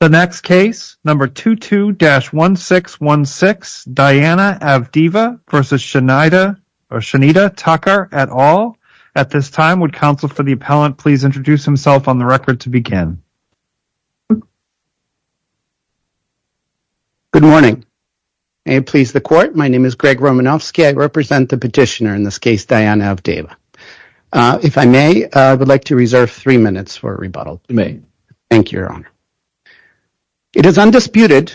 The next case, number 22-1616, Diana Avdeeva v. Shanita Tucker et al. At this time, would counsel for the appellant please introduce himself on the record to begin? Good morning. May it please the court, my name is Greg Romanofsky. I represent the petitioner in this case, Diana Avdeeva. If I may, I would like to reserve three minutes for rebuttal. Thank you, Your Honor. It is undisputed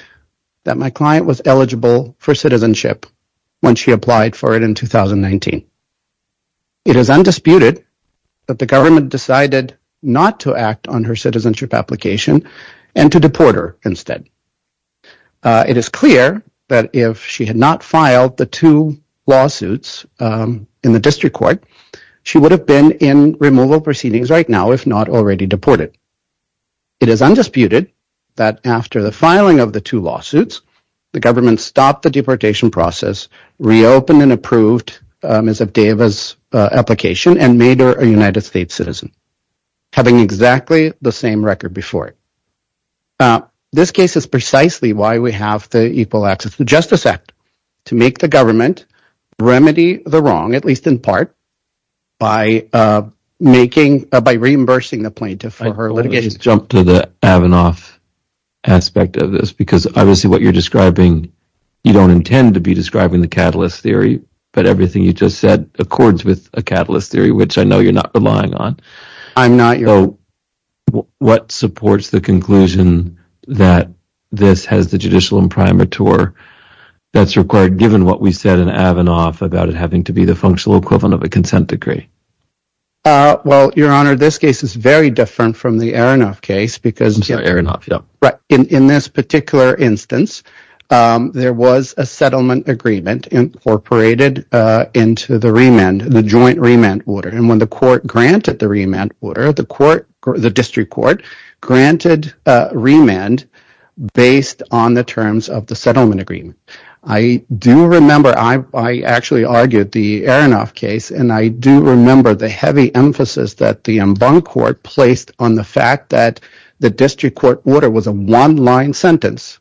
that my client was eligible for citizenship when she applied for it in 2019. It is undisputed that the government decided not to act on her citizenship application and to deport her instead. It is clear that if she had not filed the two lawsuits in the district court, she would have been in removal proceedings right now if not already deported. It is undisputed that after the filing of the two lawsuits, the government stopped the deportation process, reopened and approved Ms. Avdeeva's application and made her a United States citizen, having exactly the same record before it. This case is precisely why we have the Equal Access to Justice Act, to make the government remedy the wrong, at least in part, by making, by reimbursing the plaintiff for her litigation. Let me just jump to the Avanoff aspect of this, because obviously what you're describing, you don't intend to be describing the catalyst theory, but everything you just said accords with a catalyst theory, which I know you're not relying on. I'm not. So what supports the conclusion that this has the judicial imprimatur that's required given what we said in Avanoff about it having to be the functional equivalent of a consent decree? Well, Your Honor, this case is very different from the Aronoff case, because in this particular instance, there was a settlement agreement incorporated into the joint remand order, and when the court granted the remand order, the district court granted remand based on the terms of the settlement agreement. I do remember, I actually argued the Aronoff case, and I do remember the heavy emphasis that the Embankment Court placed on the fact that the district court order was a one-line sentence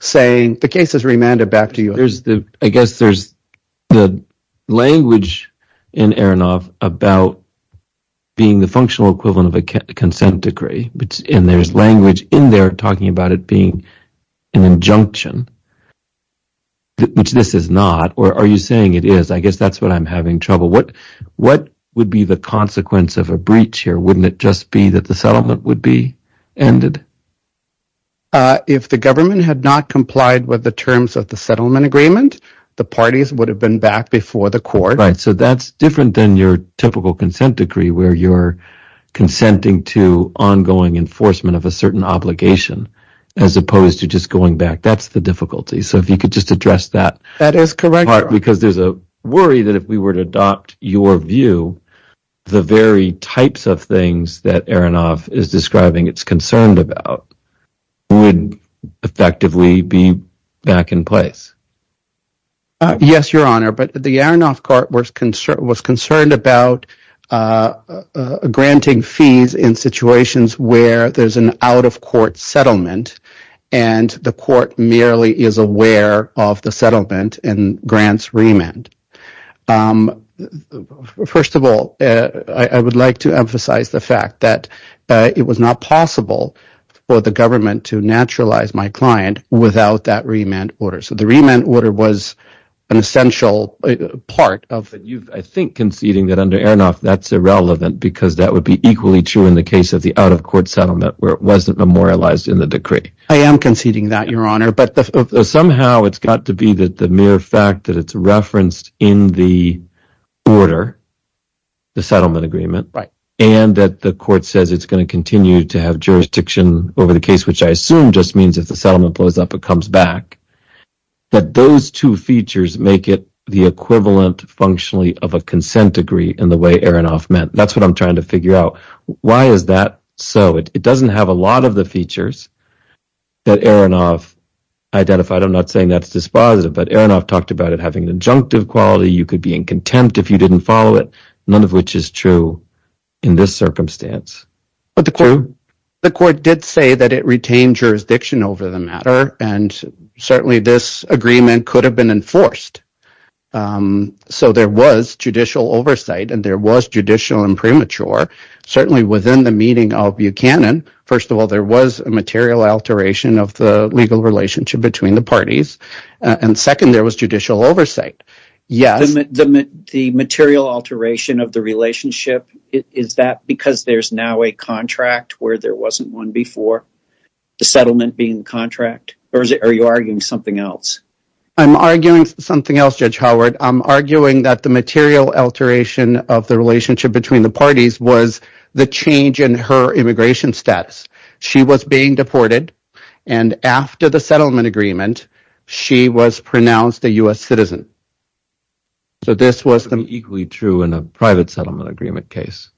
saying, the case is remanded back to you. I guess there's the language in Aronoff about being the functional equivalent of a consent decree, and there's language in there talking about it being an injunction, which this is not. Or are you saying it is? I guess that's what I'm having trouble with. What would be the consequence of a breach here? Wouldn't it just be that the settlement would be ended? If the government had not complied with the terms of the settlement agreement, the parties would have been back before the court. Right. So that's different than your typical consent decree, where you're consenting to ongoing enforcement of a certain obligation, as opposed to just going back. That's the difficulty. So if you could just address that. That is correct, Your Honor. Because there's a worry that if we were to adopt your view, the very types of things that Aronoff is describing it's concerned about would effectively be back in place. Yes, Your Honor. But the Aronoff court was concerned about granting fees in situations where there's an out-of-court settlement and the court merely is aware of the settlement and grants remand. First of all, I would like to emphasize the fact that it was not possible for the government to naturalize my client without that remand order. So the remand order was an essential part of it. I think conceding that under Aronoff, that's irrelevant, because that would be equally true in the case of the out-of-court settlement, where it wasn't memorialized in the decree. I am conceding that, Your Honor. But somehow it's got to be that the mere fact that it's referenced in the order, the settlement agreement, and that the court says it's going to continue to have jurisdiction over the I assume just means if the settlement blows up, it comes back, that those two features make it the equivalent functionally of a consent decree in the way Aronoff meant. That's what I'm trying to figure out. Why is that so? It doesn't have a lot of the features that Aronoff identified. I'm not saying that's dispositive, but Aronoff talked about it having an injunctive quality. You could be in contempt if you didn't follow it, none of which is true in this circumstance. The court did say that it retained jurisdiction over the matter, and certainly this agreement could have been enforced. So there was judicial oversight, and there was judicial impremature. Certainly within the meeting of Buchanan, first of all, there was a material alteration of the legal relationship between the parties, and second, there was judicial oversight. The material alteration of the relationship, is that because there's now a contract where there wasn't one before, the settlement being the contract, or are you arguing something else? I'm arguing something else, Judge Howard. I'm arguing that the material alteration of the relationship between the parties was the change in her immigration status. She was being deported, and after the settlement agreement, she was pronounced a U.S. citizen. So this wasn't equally true in a private settlement agreement case?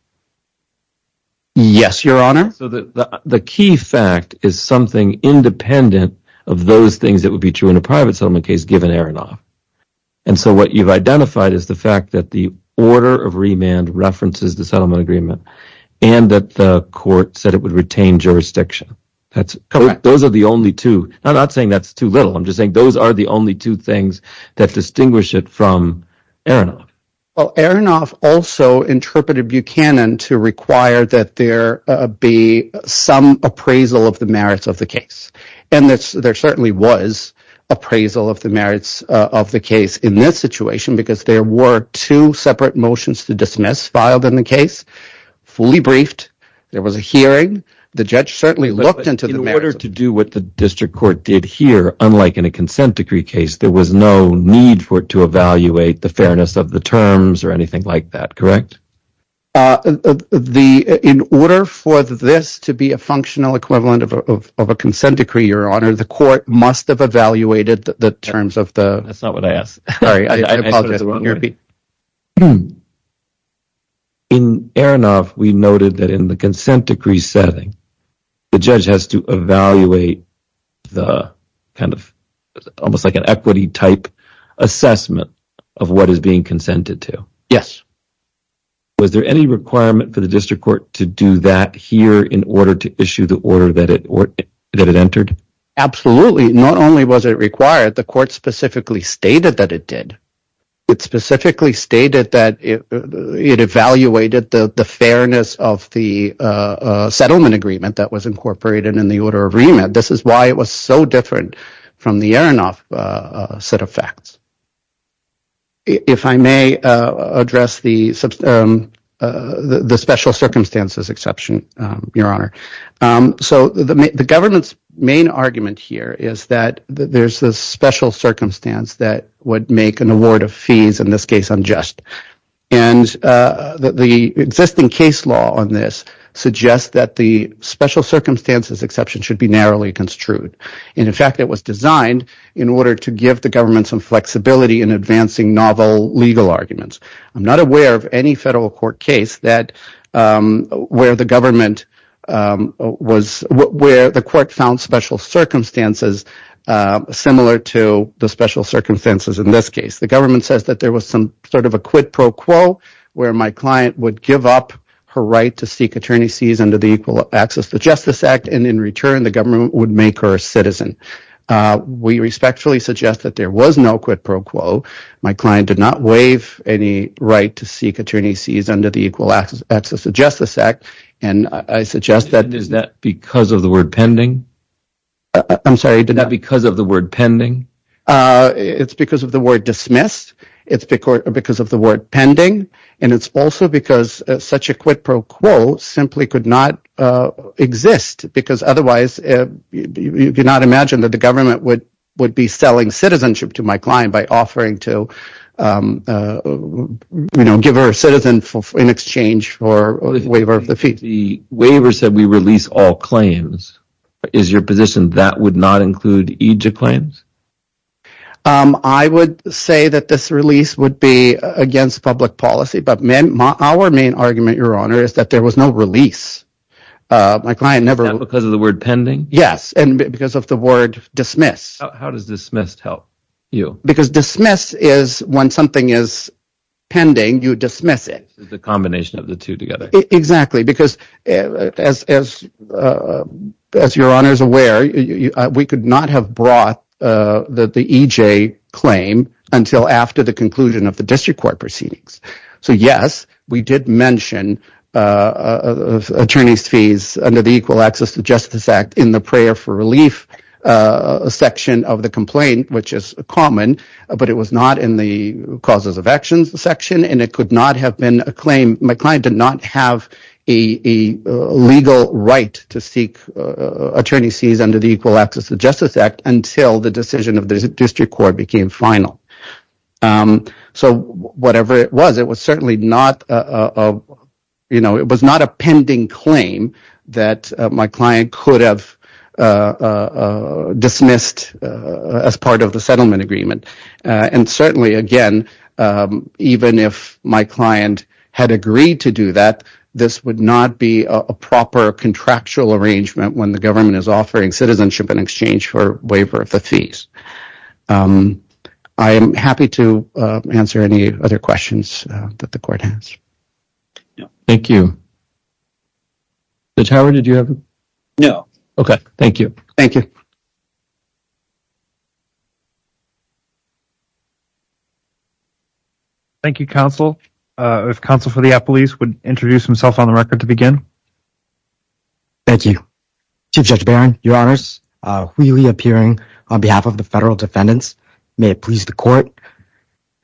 Yes, Your Honor. The key fact is something independent of those things that would be true in a private settlement case given Aronoff. And so what you've identified is the fact that the order of remand references the settlement agreement, and that the court said it would retain jurisdiction. Those are the only two. I'm not saying that's too little. I'm just saying those are the only two things that distinguish it from Aronoff. Well, Aronoff also interpreted Buchanan to require that there be some appraisal of the merits of the case, and there certainly was appraisal of the merits of the case in this case. It was fully briefed. There was a hearing. The judge certainly looked into the merits of the case. But in order to do what the district court did here, unlike in a consent decree case, there was no need for it to evaluate the fairness of the terms or anything like that, correct? In order for this to be a functional equivalent of a consent decree, Your Honor, the court must have evaluated the terms of the— That's not what I asked. Sorry. I apologize. Let me repeat. In Aronoff, we noted that in the consent decree setting, the judge has to evaluate the kind of almost like an equity-type assessment of what is being consented to. Yes. Was there any requirement for the district court to do that here in order to issue the order that it entered? Absolutely. Not only was it required, the court specifically stated that it did. It specifically stated that it evaluated the fairness of the settlement agreement that was incorporated in the order of remit. This is why it was so different from the Aronoff set of facts. If I may address the special circumstances exception, Your Honor. So the government's main argument here is that there's this special circumstance that would make an award of fees, in this case unjust. The existing case law on this suggests that the special circumstances exception should be narrowly construed. In fact, it was designed in order to give the government some flexibility in advancing novel legal arguments. I'm not aware of any federal court case where the court found special circumstances similar to the special circumstances in this case. The government says that there was some sort of a quid pro quo where my client would give up her right to seek attorney's fees under the Equal Access to Justice Act, and in return the government would make her a citizen. We respectfully suggest that there was no quid pro quo. My client did not waive any right to seek attorney's fees under the Equal Access to Justice Act, and I suggest that... It's because of the word dismissed, it's because of the word pending, and it's also because such a quid pro quo simply could not exist, because otherwise you could not imagine that the government would be selling citizenship to my client by offering to give her a citizen in exchange for a waiver of the fees. The waiver said we release all claims. Is your position that would not include each of the claims? I would say that this release would be against public policy, but our main argument, Your Honor, is that there was no release. My client never... Is that because of the word pending? Yes, and because of the word dismiss. How does dismissed help you? Because dismiss is when something is pending, you dismiss it. The combination of the two together. Exactly, because as Your Honor is aware, we could not have brought the EJ claim until after the conclusion of the district court proceedings. So yes, we did mention attorney's fees under the Equal Access to Justice Act in the prayer for relief section of the complaint, which is common, but it was not in the causes of and it could not have been a claim. My client did not have a legal right to seek attorney's fees under the Equal Access to Justice Act until the decision of the district court became final. So whatever it was, it was certainly not a... It was not a pending claim that my client could have dismissed as part of the settlement agreement. And certainly, again, even if my client had agreed to do that, this would not be a proper contractual arrangement when the government is offering citizenship in exchange for waiver of the fees. I am happy to answer any other questions that the court has. Thank you. Judge Howard, did you have a... No. Okay, thank you. Thank you, counsel. If counsel for the appellees would introduce himself on the record to begin. Thank you. Chief Judge Barron, your honors, Wheelie appearing on behalf of the federal defendants. May it please the court,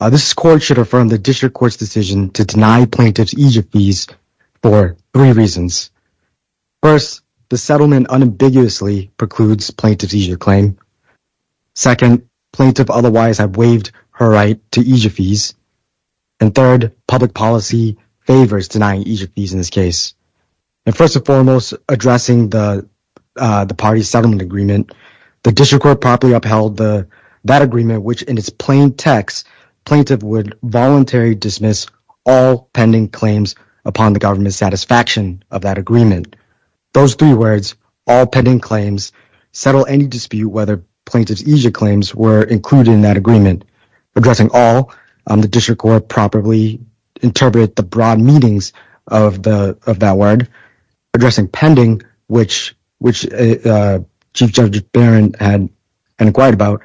this court should affirm the district court's decision to deny plaintiff's EJF fees for three reasons. First, the settlement unambiguously precludes plaintiff's EJF claim. Second, plaintiff otherwise have waived her right to EJF fees. And third, public policy favors denying EJF fees in this case. And first and foremost, addressing the party settlement agreement, the district court properly upheld that agreement, which in its plain text, plaintiff would voluntary dismiss all pending claims upon the government's satisfaction of that agreement. Those three words, all pending claims, settle any dispute whether plaintiff's EJF claims were included in that agreement. Addressing all, the district court properly interpret the broad meanings of that word. Addressing pending, which Chief Judge Barron had inquired about,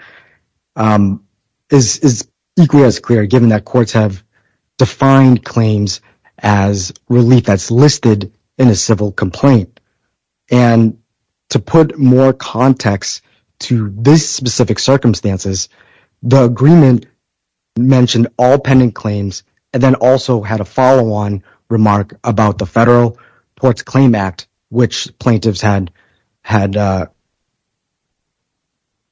is equally as clear given that courts have defined claims as relief that's listed in a civil complaint. And to put more context to this specific circumstances, the agreement mentioned all pending claims and then also had a follow-on remark about the Federal Courts Claim Act, which plaintiffs had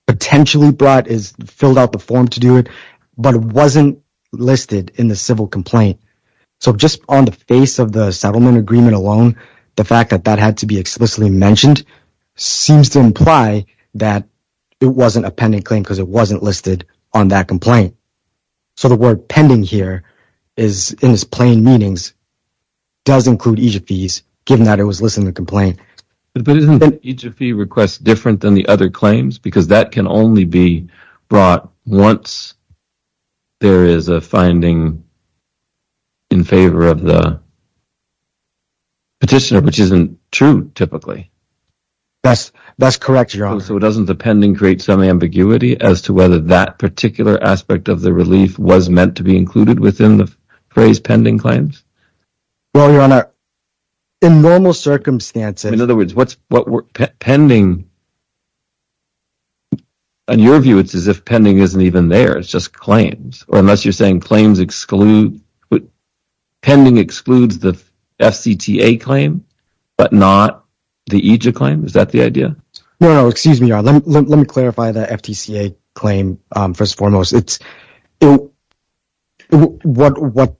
potentially brought, filled out the form to do it, but it wasn't listed in the civil complaint. So, just on the face of the settlement agreement alone, the fact that that had to be explicitly mentioned seems to imply that it wasn't a pending claim because it wasn't listed on that complaint. So, the word pending here, in its plain meanings, does include EJF fees given that it was listed in the complaint. But isn't the EJF fee request different than the other claims? Because that can only be brought once there is a finding in favor of the petitioner, which isn't true typically. That's correct, Your Honor. So, doesn't the pending create some ambiguity as to whether that particular aspect of the relief was meant to be included within the phrase pending claims? Well, Your Honor, in normal circumstances… In other words, what's pending… On your view, it's as if pending isn't even there. It's just claims. Unless you're saying claims exclude… Pending excludes the FCTA claim, but not the EJF claim? Is that the idea? No, no. Excuse me, Your Honor. Let me clarify the FTCA claim, first and foremost. What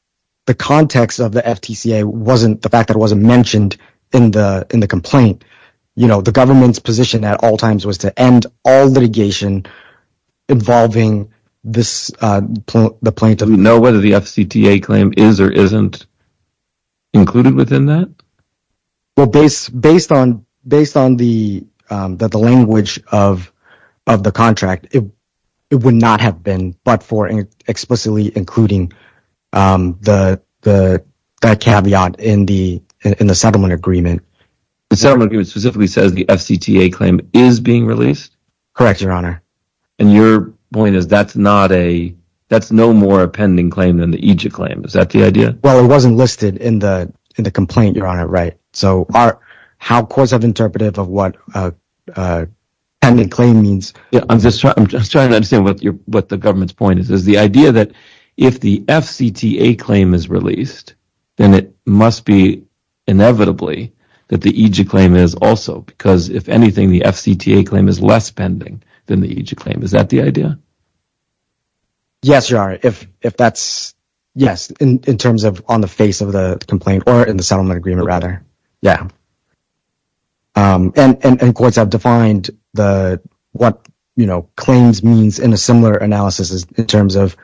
the context of the FTCA wasn't, the fact that it wasn't mentioned in the complaint, you know, the government's position at all times was to end all litigation involving this plaintiff. Do you know whether the FCTA claim is or isn't included within that? Well, based on the language of the contract, it would not have been, but for explicitly including that caveat in the settlement agreement. The settlement agreement specifically says the FCTA claim is being released? Correct, Your Honor. And your point is that's no more a pending claim than the EJF claim. Is that the idea? Well, it wasn't listed in the complaint, Your Honor, right? So how courts have interpreted of what a pending claim means… I'm just trying to understand what the government's point is. Is the idea that if the FCTA claim is released, then it must be inevitably that the EJF claim is also, because if anything, the FCTA claim is less pending than the EJF claim. Is that the idea? Yes, Your Honor. If that's… Yes, in terms of on the face of the complaint or in the settlement agreement, rather. Yeah. And courts have defined what claims means in a similar analysis in terms of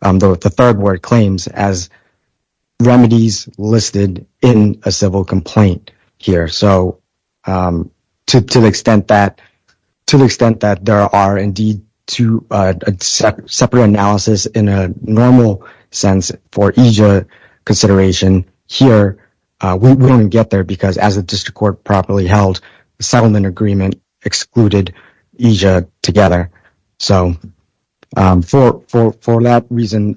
the third word claims as remedies listed in a civil complaint here. So to the extent that there are, indeed, two separate analysis in a normal sense for EJF consideration here, we wouldn't get there because as the district court properly held the settlement agreement excluded EJF together. So for that reason,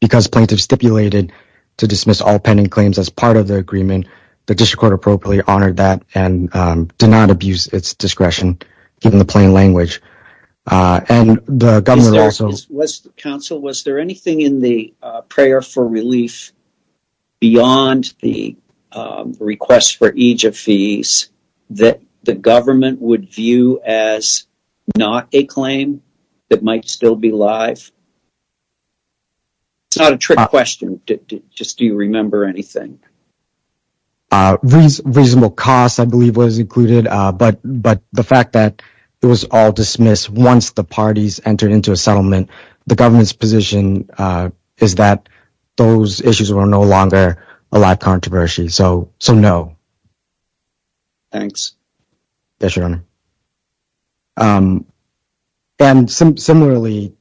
because plaintiffs stipulated to dismiss all pending claims as part of the settlement, we honored that and did not abuse its discretion in the plain language. And the government also… Counsel, was there anything in the prayer for relief beyond the request for EJF fees that the government would view as not a claim that might still be live? It's not a trick question. Just do you remember anything? Reasonable costs, I believe, was included, but the fact that it was all dismissed once the parties entered into a settlement, the government's position is that those issues were no longer a live controversy. So no. Thanks. Yes, Your Honor. And similarly,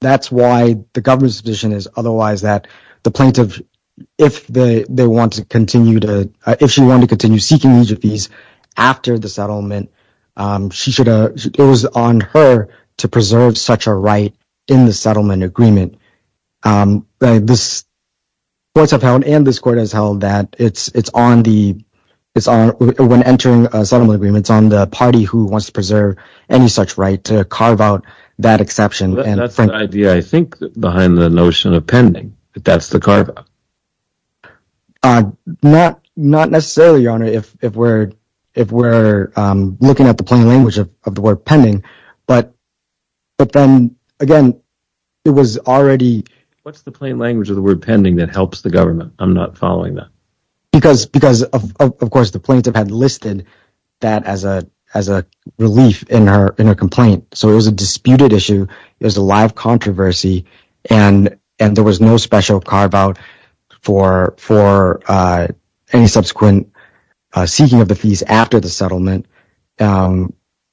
that's why the government's position is otherwise that the plaintiff, if they want to continue to…if she wanted to continue seeking EJF fees after the settlement, she should…it was on her to preserve such a right in the settlement agreement. This court has held and this court has held that it's on the…when entering a settlement agreement, it's on the party who wants to preserve any such right to carve out that exception. That's the idea, I think, behind the notion of pending, that that's the carve-out. Not necessarily, Your Honor, if we're looking at the plain language of the word pending, but then, again, it was already… What's the plain language of the word pending that helps the government? I'm not following that. Because, of course, the plaintiff had listed that as a relief in her complaint. So it was a disputed issue. It was a live controversy and there was no special carve-out for any subsequent seeking of the fees after the settlement. And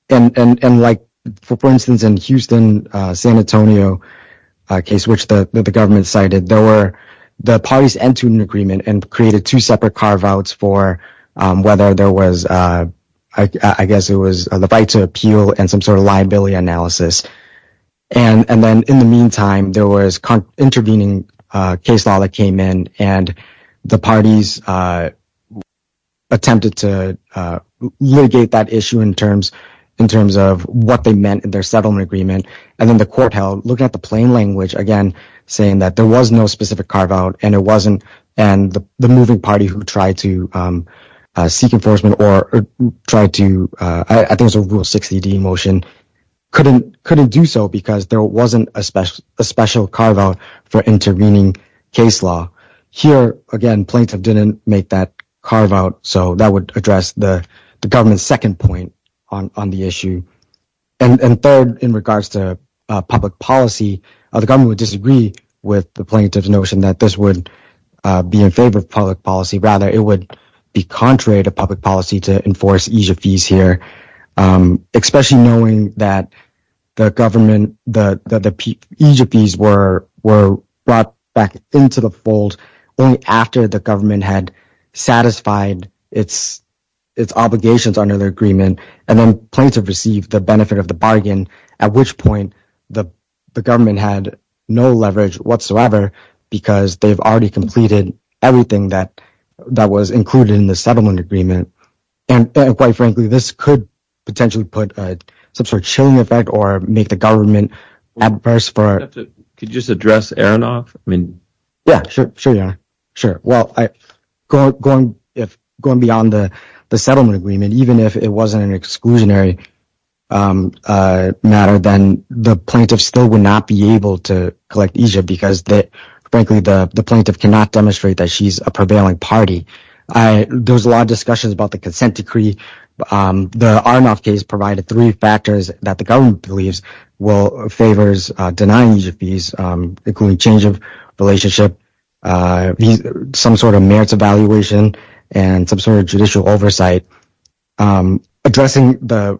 like, for instance, in Houston, San Antonio, a case which the government cited, there were the parties entered into an agreement and created two separate carve-outs for whether there was, I guess, it was the right to appeal and some sort of liability analysis. And then, in the meantime, there was intervening case law that came in and the parties attempted to litigate that issue in terms of what they meant in their settlement agreement. And then the court held, looking at the plain language, again, saying that there was no specific carve-out and it wasn't. And the moving party who tried to seek enforcement or tried to, I think it was a Rule 60D motion, couldn't do so because there wasn't a special carve-out for intervening case law. Here, again, plaintiff didn't make that carve-out. So that would address the government's second point on the issue. And third, in regards to public policy, the government would disagree with the plaintiff's notion that this would be in favor of public policy. Rather, it would be contrary to public policy to enforce EJP's here, especially knowing that the government, the EJP's were brought back into the fold only after the government had satisfied its obligations under the agreement. And then plaintiff received the benefit of the bargain, at which point the government had no leverage whatsoever because they've already completed everything that was included in the settlement agreement. And quite frankly, this could potentially put some sort of chilling effect or make the government adverse for... Could you just address Aronoff? I mean... Yeah, sure. Sure. Yeah. Sure. Well, going beyond the settlement agreement, even if it wasn't an exclusionary matter, then the plaintiff still would not be able to collect EJP because, frankly, the plaintiff cannot demonstrate that she's a prevailing party. There was a lot of discussions about the consent decree. The Aronoff case provided three factors that the government believes will favor denying EJP's, including change of relationship, some sort of merits evaluation, and some sort of judicial oversight. But addressing the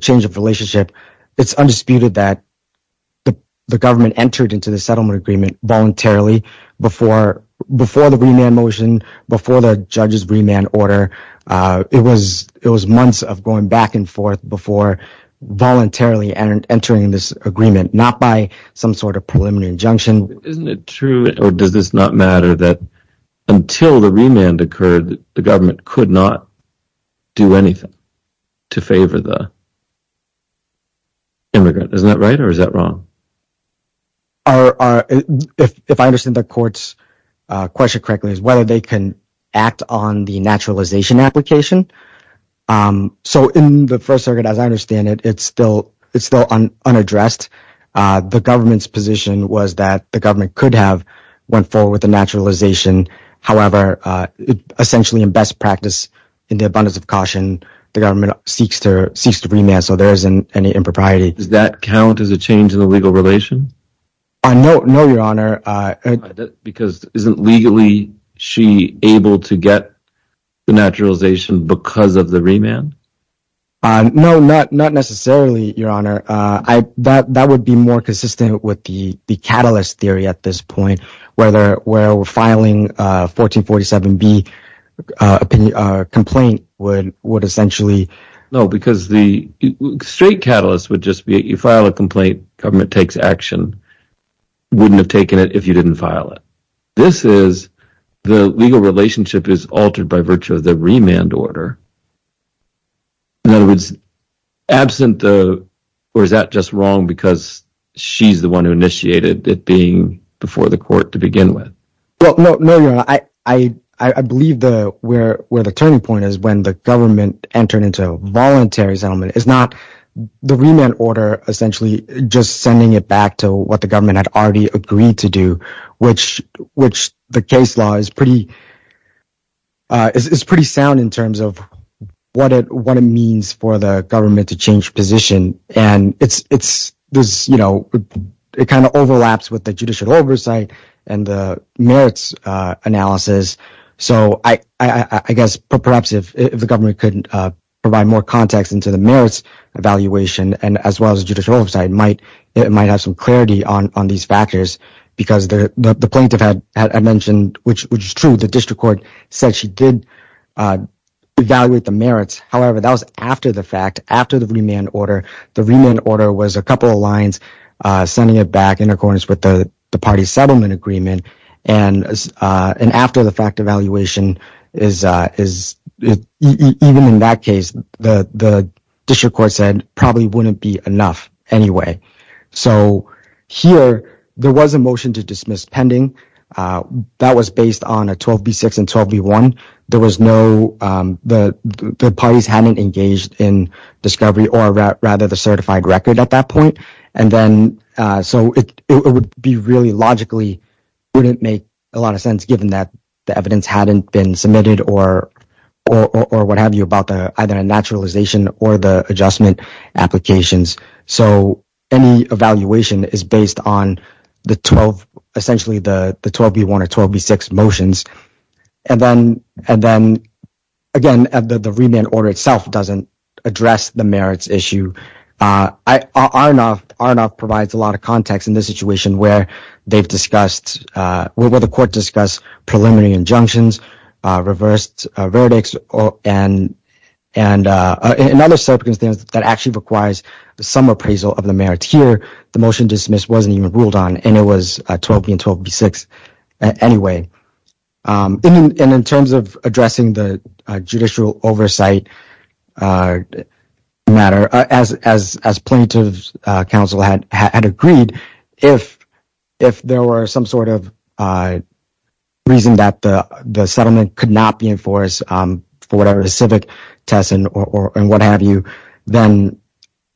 change of relationship, it's undisputed that the government entered into the settlement agreement voluntarily before the remand motion, before the judge's remand order. It was months of going back and forth before voluntarily entering this agreement, not by some sort of preliminary injunction. Isn't it true, or does this not matter, that until the remand occurred, the government could not do anything to favor the immigrant? Isn't that right, or is that wrong? If I understand the court's question correctly, it's whether they can act on the naturalization application. So in the First Circuit, as I understand it, it's still unaddressed. The government's position was that the government could have went forward with the naturalization. However, essentially in best practice, in the abundance of caution, the government seeks to remand, so there isn't any impropriety. Does that count as a change in the legal relation? No, Your Honor. Because isn't legally she able to get the naturalization because of the remand? No, not necessarily, Your Honor. That would be more consistent with the catalyst theory at this point, where we're filing a 1447B complaint would essentially... No, because the straight catalyst would just be, you file a complaint, government takes action, wouldn't have taken it if you didn't file it. This is, the legal relationship is altered by virtue of the remand order. In other words, absent the... Or is that just wrong because she's the one who initiated it being before the court to begin with? No, Your Honor. I believe where the turning point is when the government entered into a voluntary settlement. It's not the remand order essentially just sending it back to what the government had already agreed to do, which the case law is pretty sound in terms of what it means for the government to change position and it kind of overlaps with the judicial oversight and the merits analysis. So, I guess perhaps if the government could provide more context into the merits evaluation and as well as judicial oversight, it might have some clarity on these factors because the plaintiff had mentioned, which is true, the district court said she did evaluate the merits. However, that was after the fact, after the remand order. The remand order was a couple of lines sending it back in accordance with the party settlement agreement and after the fact evaluation is... The district court said probably wouldn't be enough anyway. So here, there was a motion to dismiss pending. That was based on a 12B6 and 12B1. There was no... The parties hadn't engaged in discovery or rather the certified record at that point. And then... So, it would be really logically wouldn't make a lot of sense given that the evidence hadn't been submitted or what have you about either a naturalization or the adjustment applications. So, any evaluation is based on the 12, essentially the 12B1 or 12B6 motions. And then, again, the remand order itself doesn't address the merits issue. RNOF provides a lot of context in this situation where they've discussed... Where the court discussed preliminary injunctions, reversed verdicts, and in other circumstances that actually requires some appraisal of the merits. Here, the motion dismissed wasn't even ruled on and it was 12B and 12B6 anyway. And in terms of addressing the judicial oversight matter, as plaintiff's counsel had agreed, if there were some sort of reason that the settlement could not be enforced for whatever the civic test and what have you, then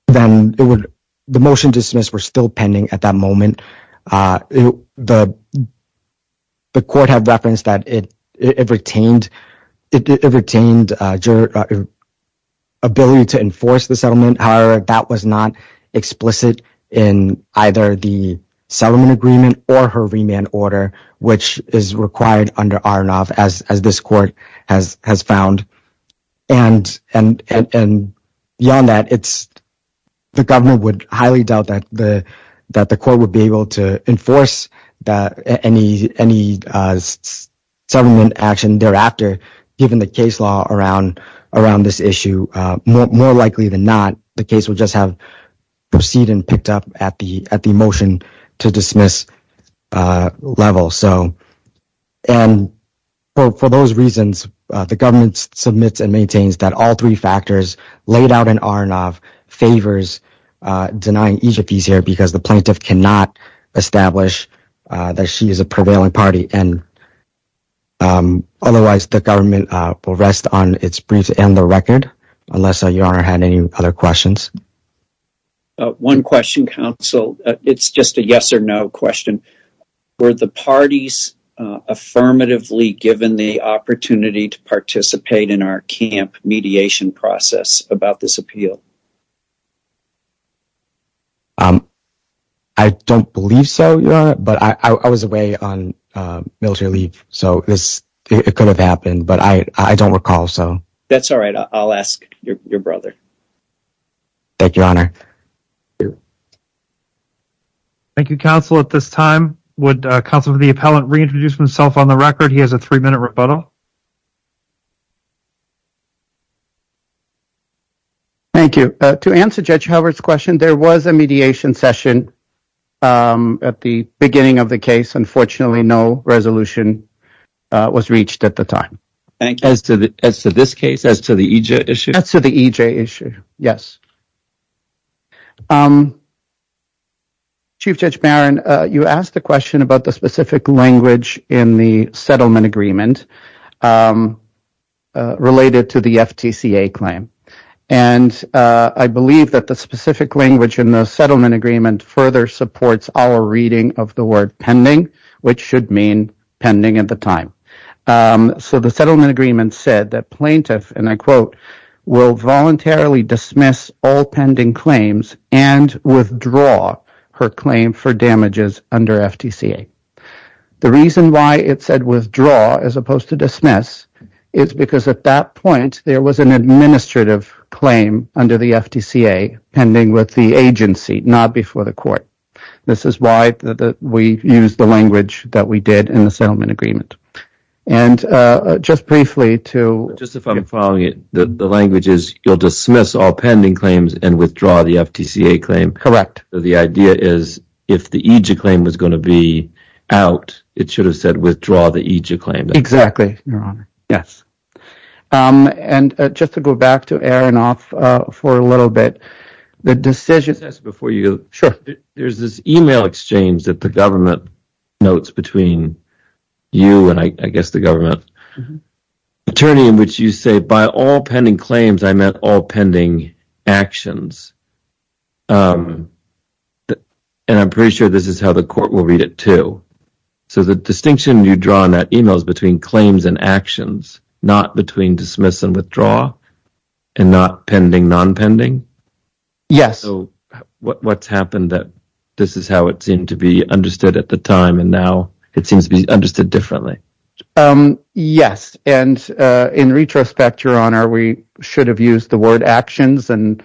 the motion dismissed were still pending at that moment. The court had referenced that it retained ability to enforce the settlement. However, that was not explicit in either the settlement agreement or her remand order, which is required under RNOF as this court has found. And beyond that, the government would highly doubt that the court would be able to enforce any settlement action thereafter, given the case law around this issue. More likely than not, the case would just have proceeded and picked up at the motion to dismiss level. And for those reasons, the government submits and maintains that all three factors laid out in RNOF favors denying Egypt is here because the plaintiff cannot establish that she is a prevailing party. And otherwise, the government will rest on its briefs and the record, unless Your Honor had any other questions. One question, counsel. It's just a yes or no question. Were the parties affirmatively given the opportunity to participate in our camp mediation process about this appeal? I don't believe so, Your Honor, but I was away on military leave, so it could have happened, but I don't recall. That's all right. I'll ask your brother. Thank you, Your Honor. Thank you, counsel. At this time, would counsel for the appellant reintroduce himself on the record? He has a three-minute rebuttal. Thank you. To answer Judge Howard's question, there was a mediation session at the beginning of the case. Unfortunately, no resolution was reached at the time. As to this case, as to the EJ issue? As to the EJ issue, yes. Chief Judge Barron, you asked a question about the specific language in the settlement agreement related to the FTCA claim, and I believe that the specific language in the settlement agreement further supports our reading of the word pending, which should mean pending at the time. The settlement agreement said that plaintiff, and I quote, will voluntarily dismiss all pending claims and withdraw her claim for damages under FTCA. The reason why it said withdraw as opposed to dismiss is because at that point, there was an administrative claim under the FTCA pending with the agency, not before the court. This is why we used the language that we did in the settlement agreement. Just if I'm following it, the language is you'll dismiss all pending claims and withdraw the FTCA claim. Correct. The idea is if the EJ claim was going to be out, it should have said withdraw the EJ claim. Exactly, Your Honor. Yes. Just to go back to Aaron off for a little bit, the decision Let me just ask before you go. Sure. There's this email exchange that the government notes between you and I guess the government attorney in which you say, by all pending claims, I meant all pending actions. And I'm pretty sure this is how the court will read it too. So the distinction you draw in that email is between claims and actions, not between dismiss and withdraw, and not pending, non-pending? Yes. So what's happened that this is how it seemed to be understood at the time, and now it seems to be understood differently? Yes. And in retrospect, Your Honor, we should have used the word actions. And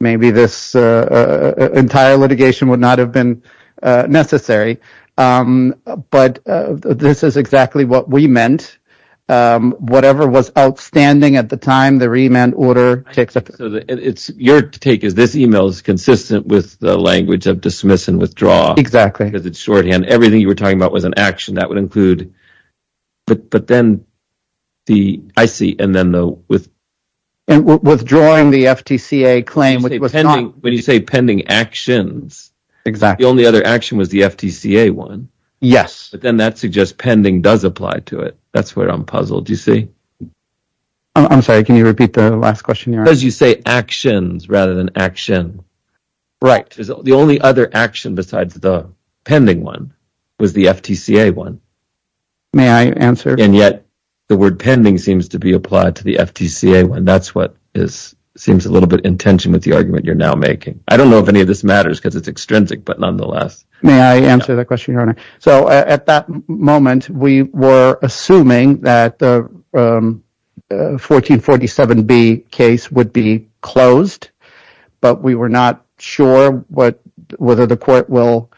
maybe this entire litigation would not have been necessary. But this is exactly what we meant. Whatever was outstanding at the time, the remand order takes up. So your take is this email is consistent with the language of dismiss and withdraw. Exactly. Because it's shorthand. Everything you were talking about was an action. That would include. But then the I see. And then the with. And withdrawing the FTCA claim. When you say pending actions. Exactly. The only other action was the FTCA one. Yes. But then that suggests pending does apply to it. That's where I'm puzzled. You see. I'm sorry. Can you repeat the last question? As you say, actions rather than action. Right. The only other action besides the pending one was the FTCA one. May I answer? And yet the word pending seems to be applied to the FTCA one. That's what is seems a little bit intention with the argument you're now making. I don't know if any of this matters because it's extrinsic. But nonetheless. May I answer that question? Your Honor. So at that moment, we were assuming that the 1447B case would be closed. But we were not sure what whether the court will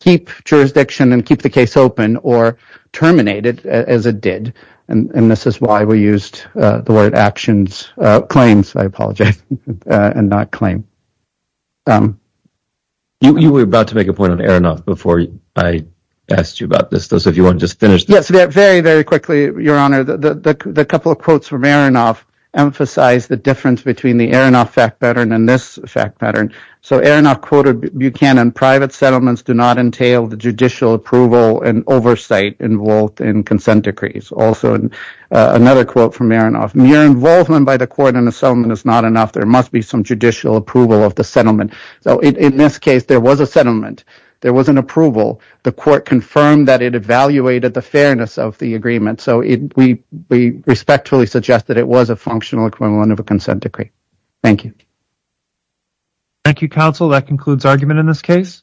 keep jurisdiction and keep the case open or terminated as it did. And this is why we used the word actions claims. I apologize and not claim. You were about to make a point on Aronoff before I asked you about this. Those of you who just finished. Yes. Very, very quickly. Your Honor. The couple of quotes from Aronoff emphasize the difference between the Aronoff fact pattern and this fact pattern. So Aronoff quoted Buchanan. Private settlements do not entail the judicial approval and oversight involved in consent decrees. Also, another quote from Aronoff. Mere involvement by the court in the settlement is not enough. There must be some judicial approval of the settlement. So in this case, there was a settlement. There was an approval. The court confirmed that it evaluated the fairness of the agreement. So we respectfully suggest that it was a functional equivalent of a consent decree. Thank you. Thank you, counsel. That concludes argument in this case.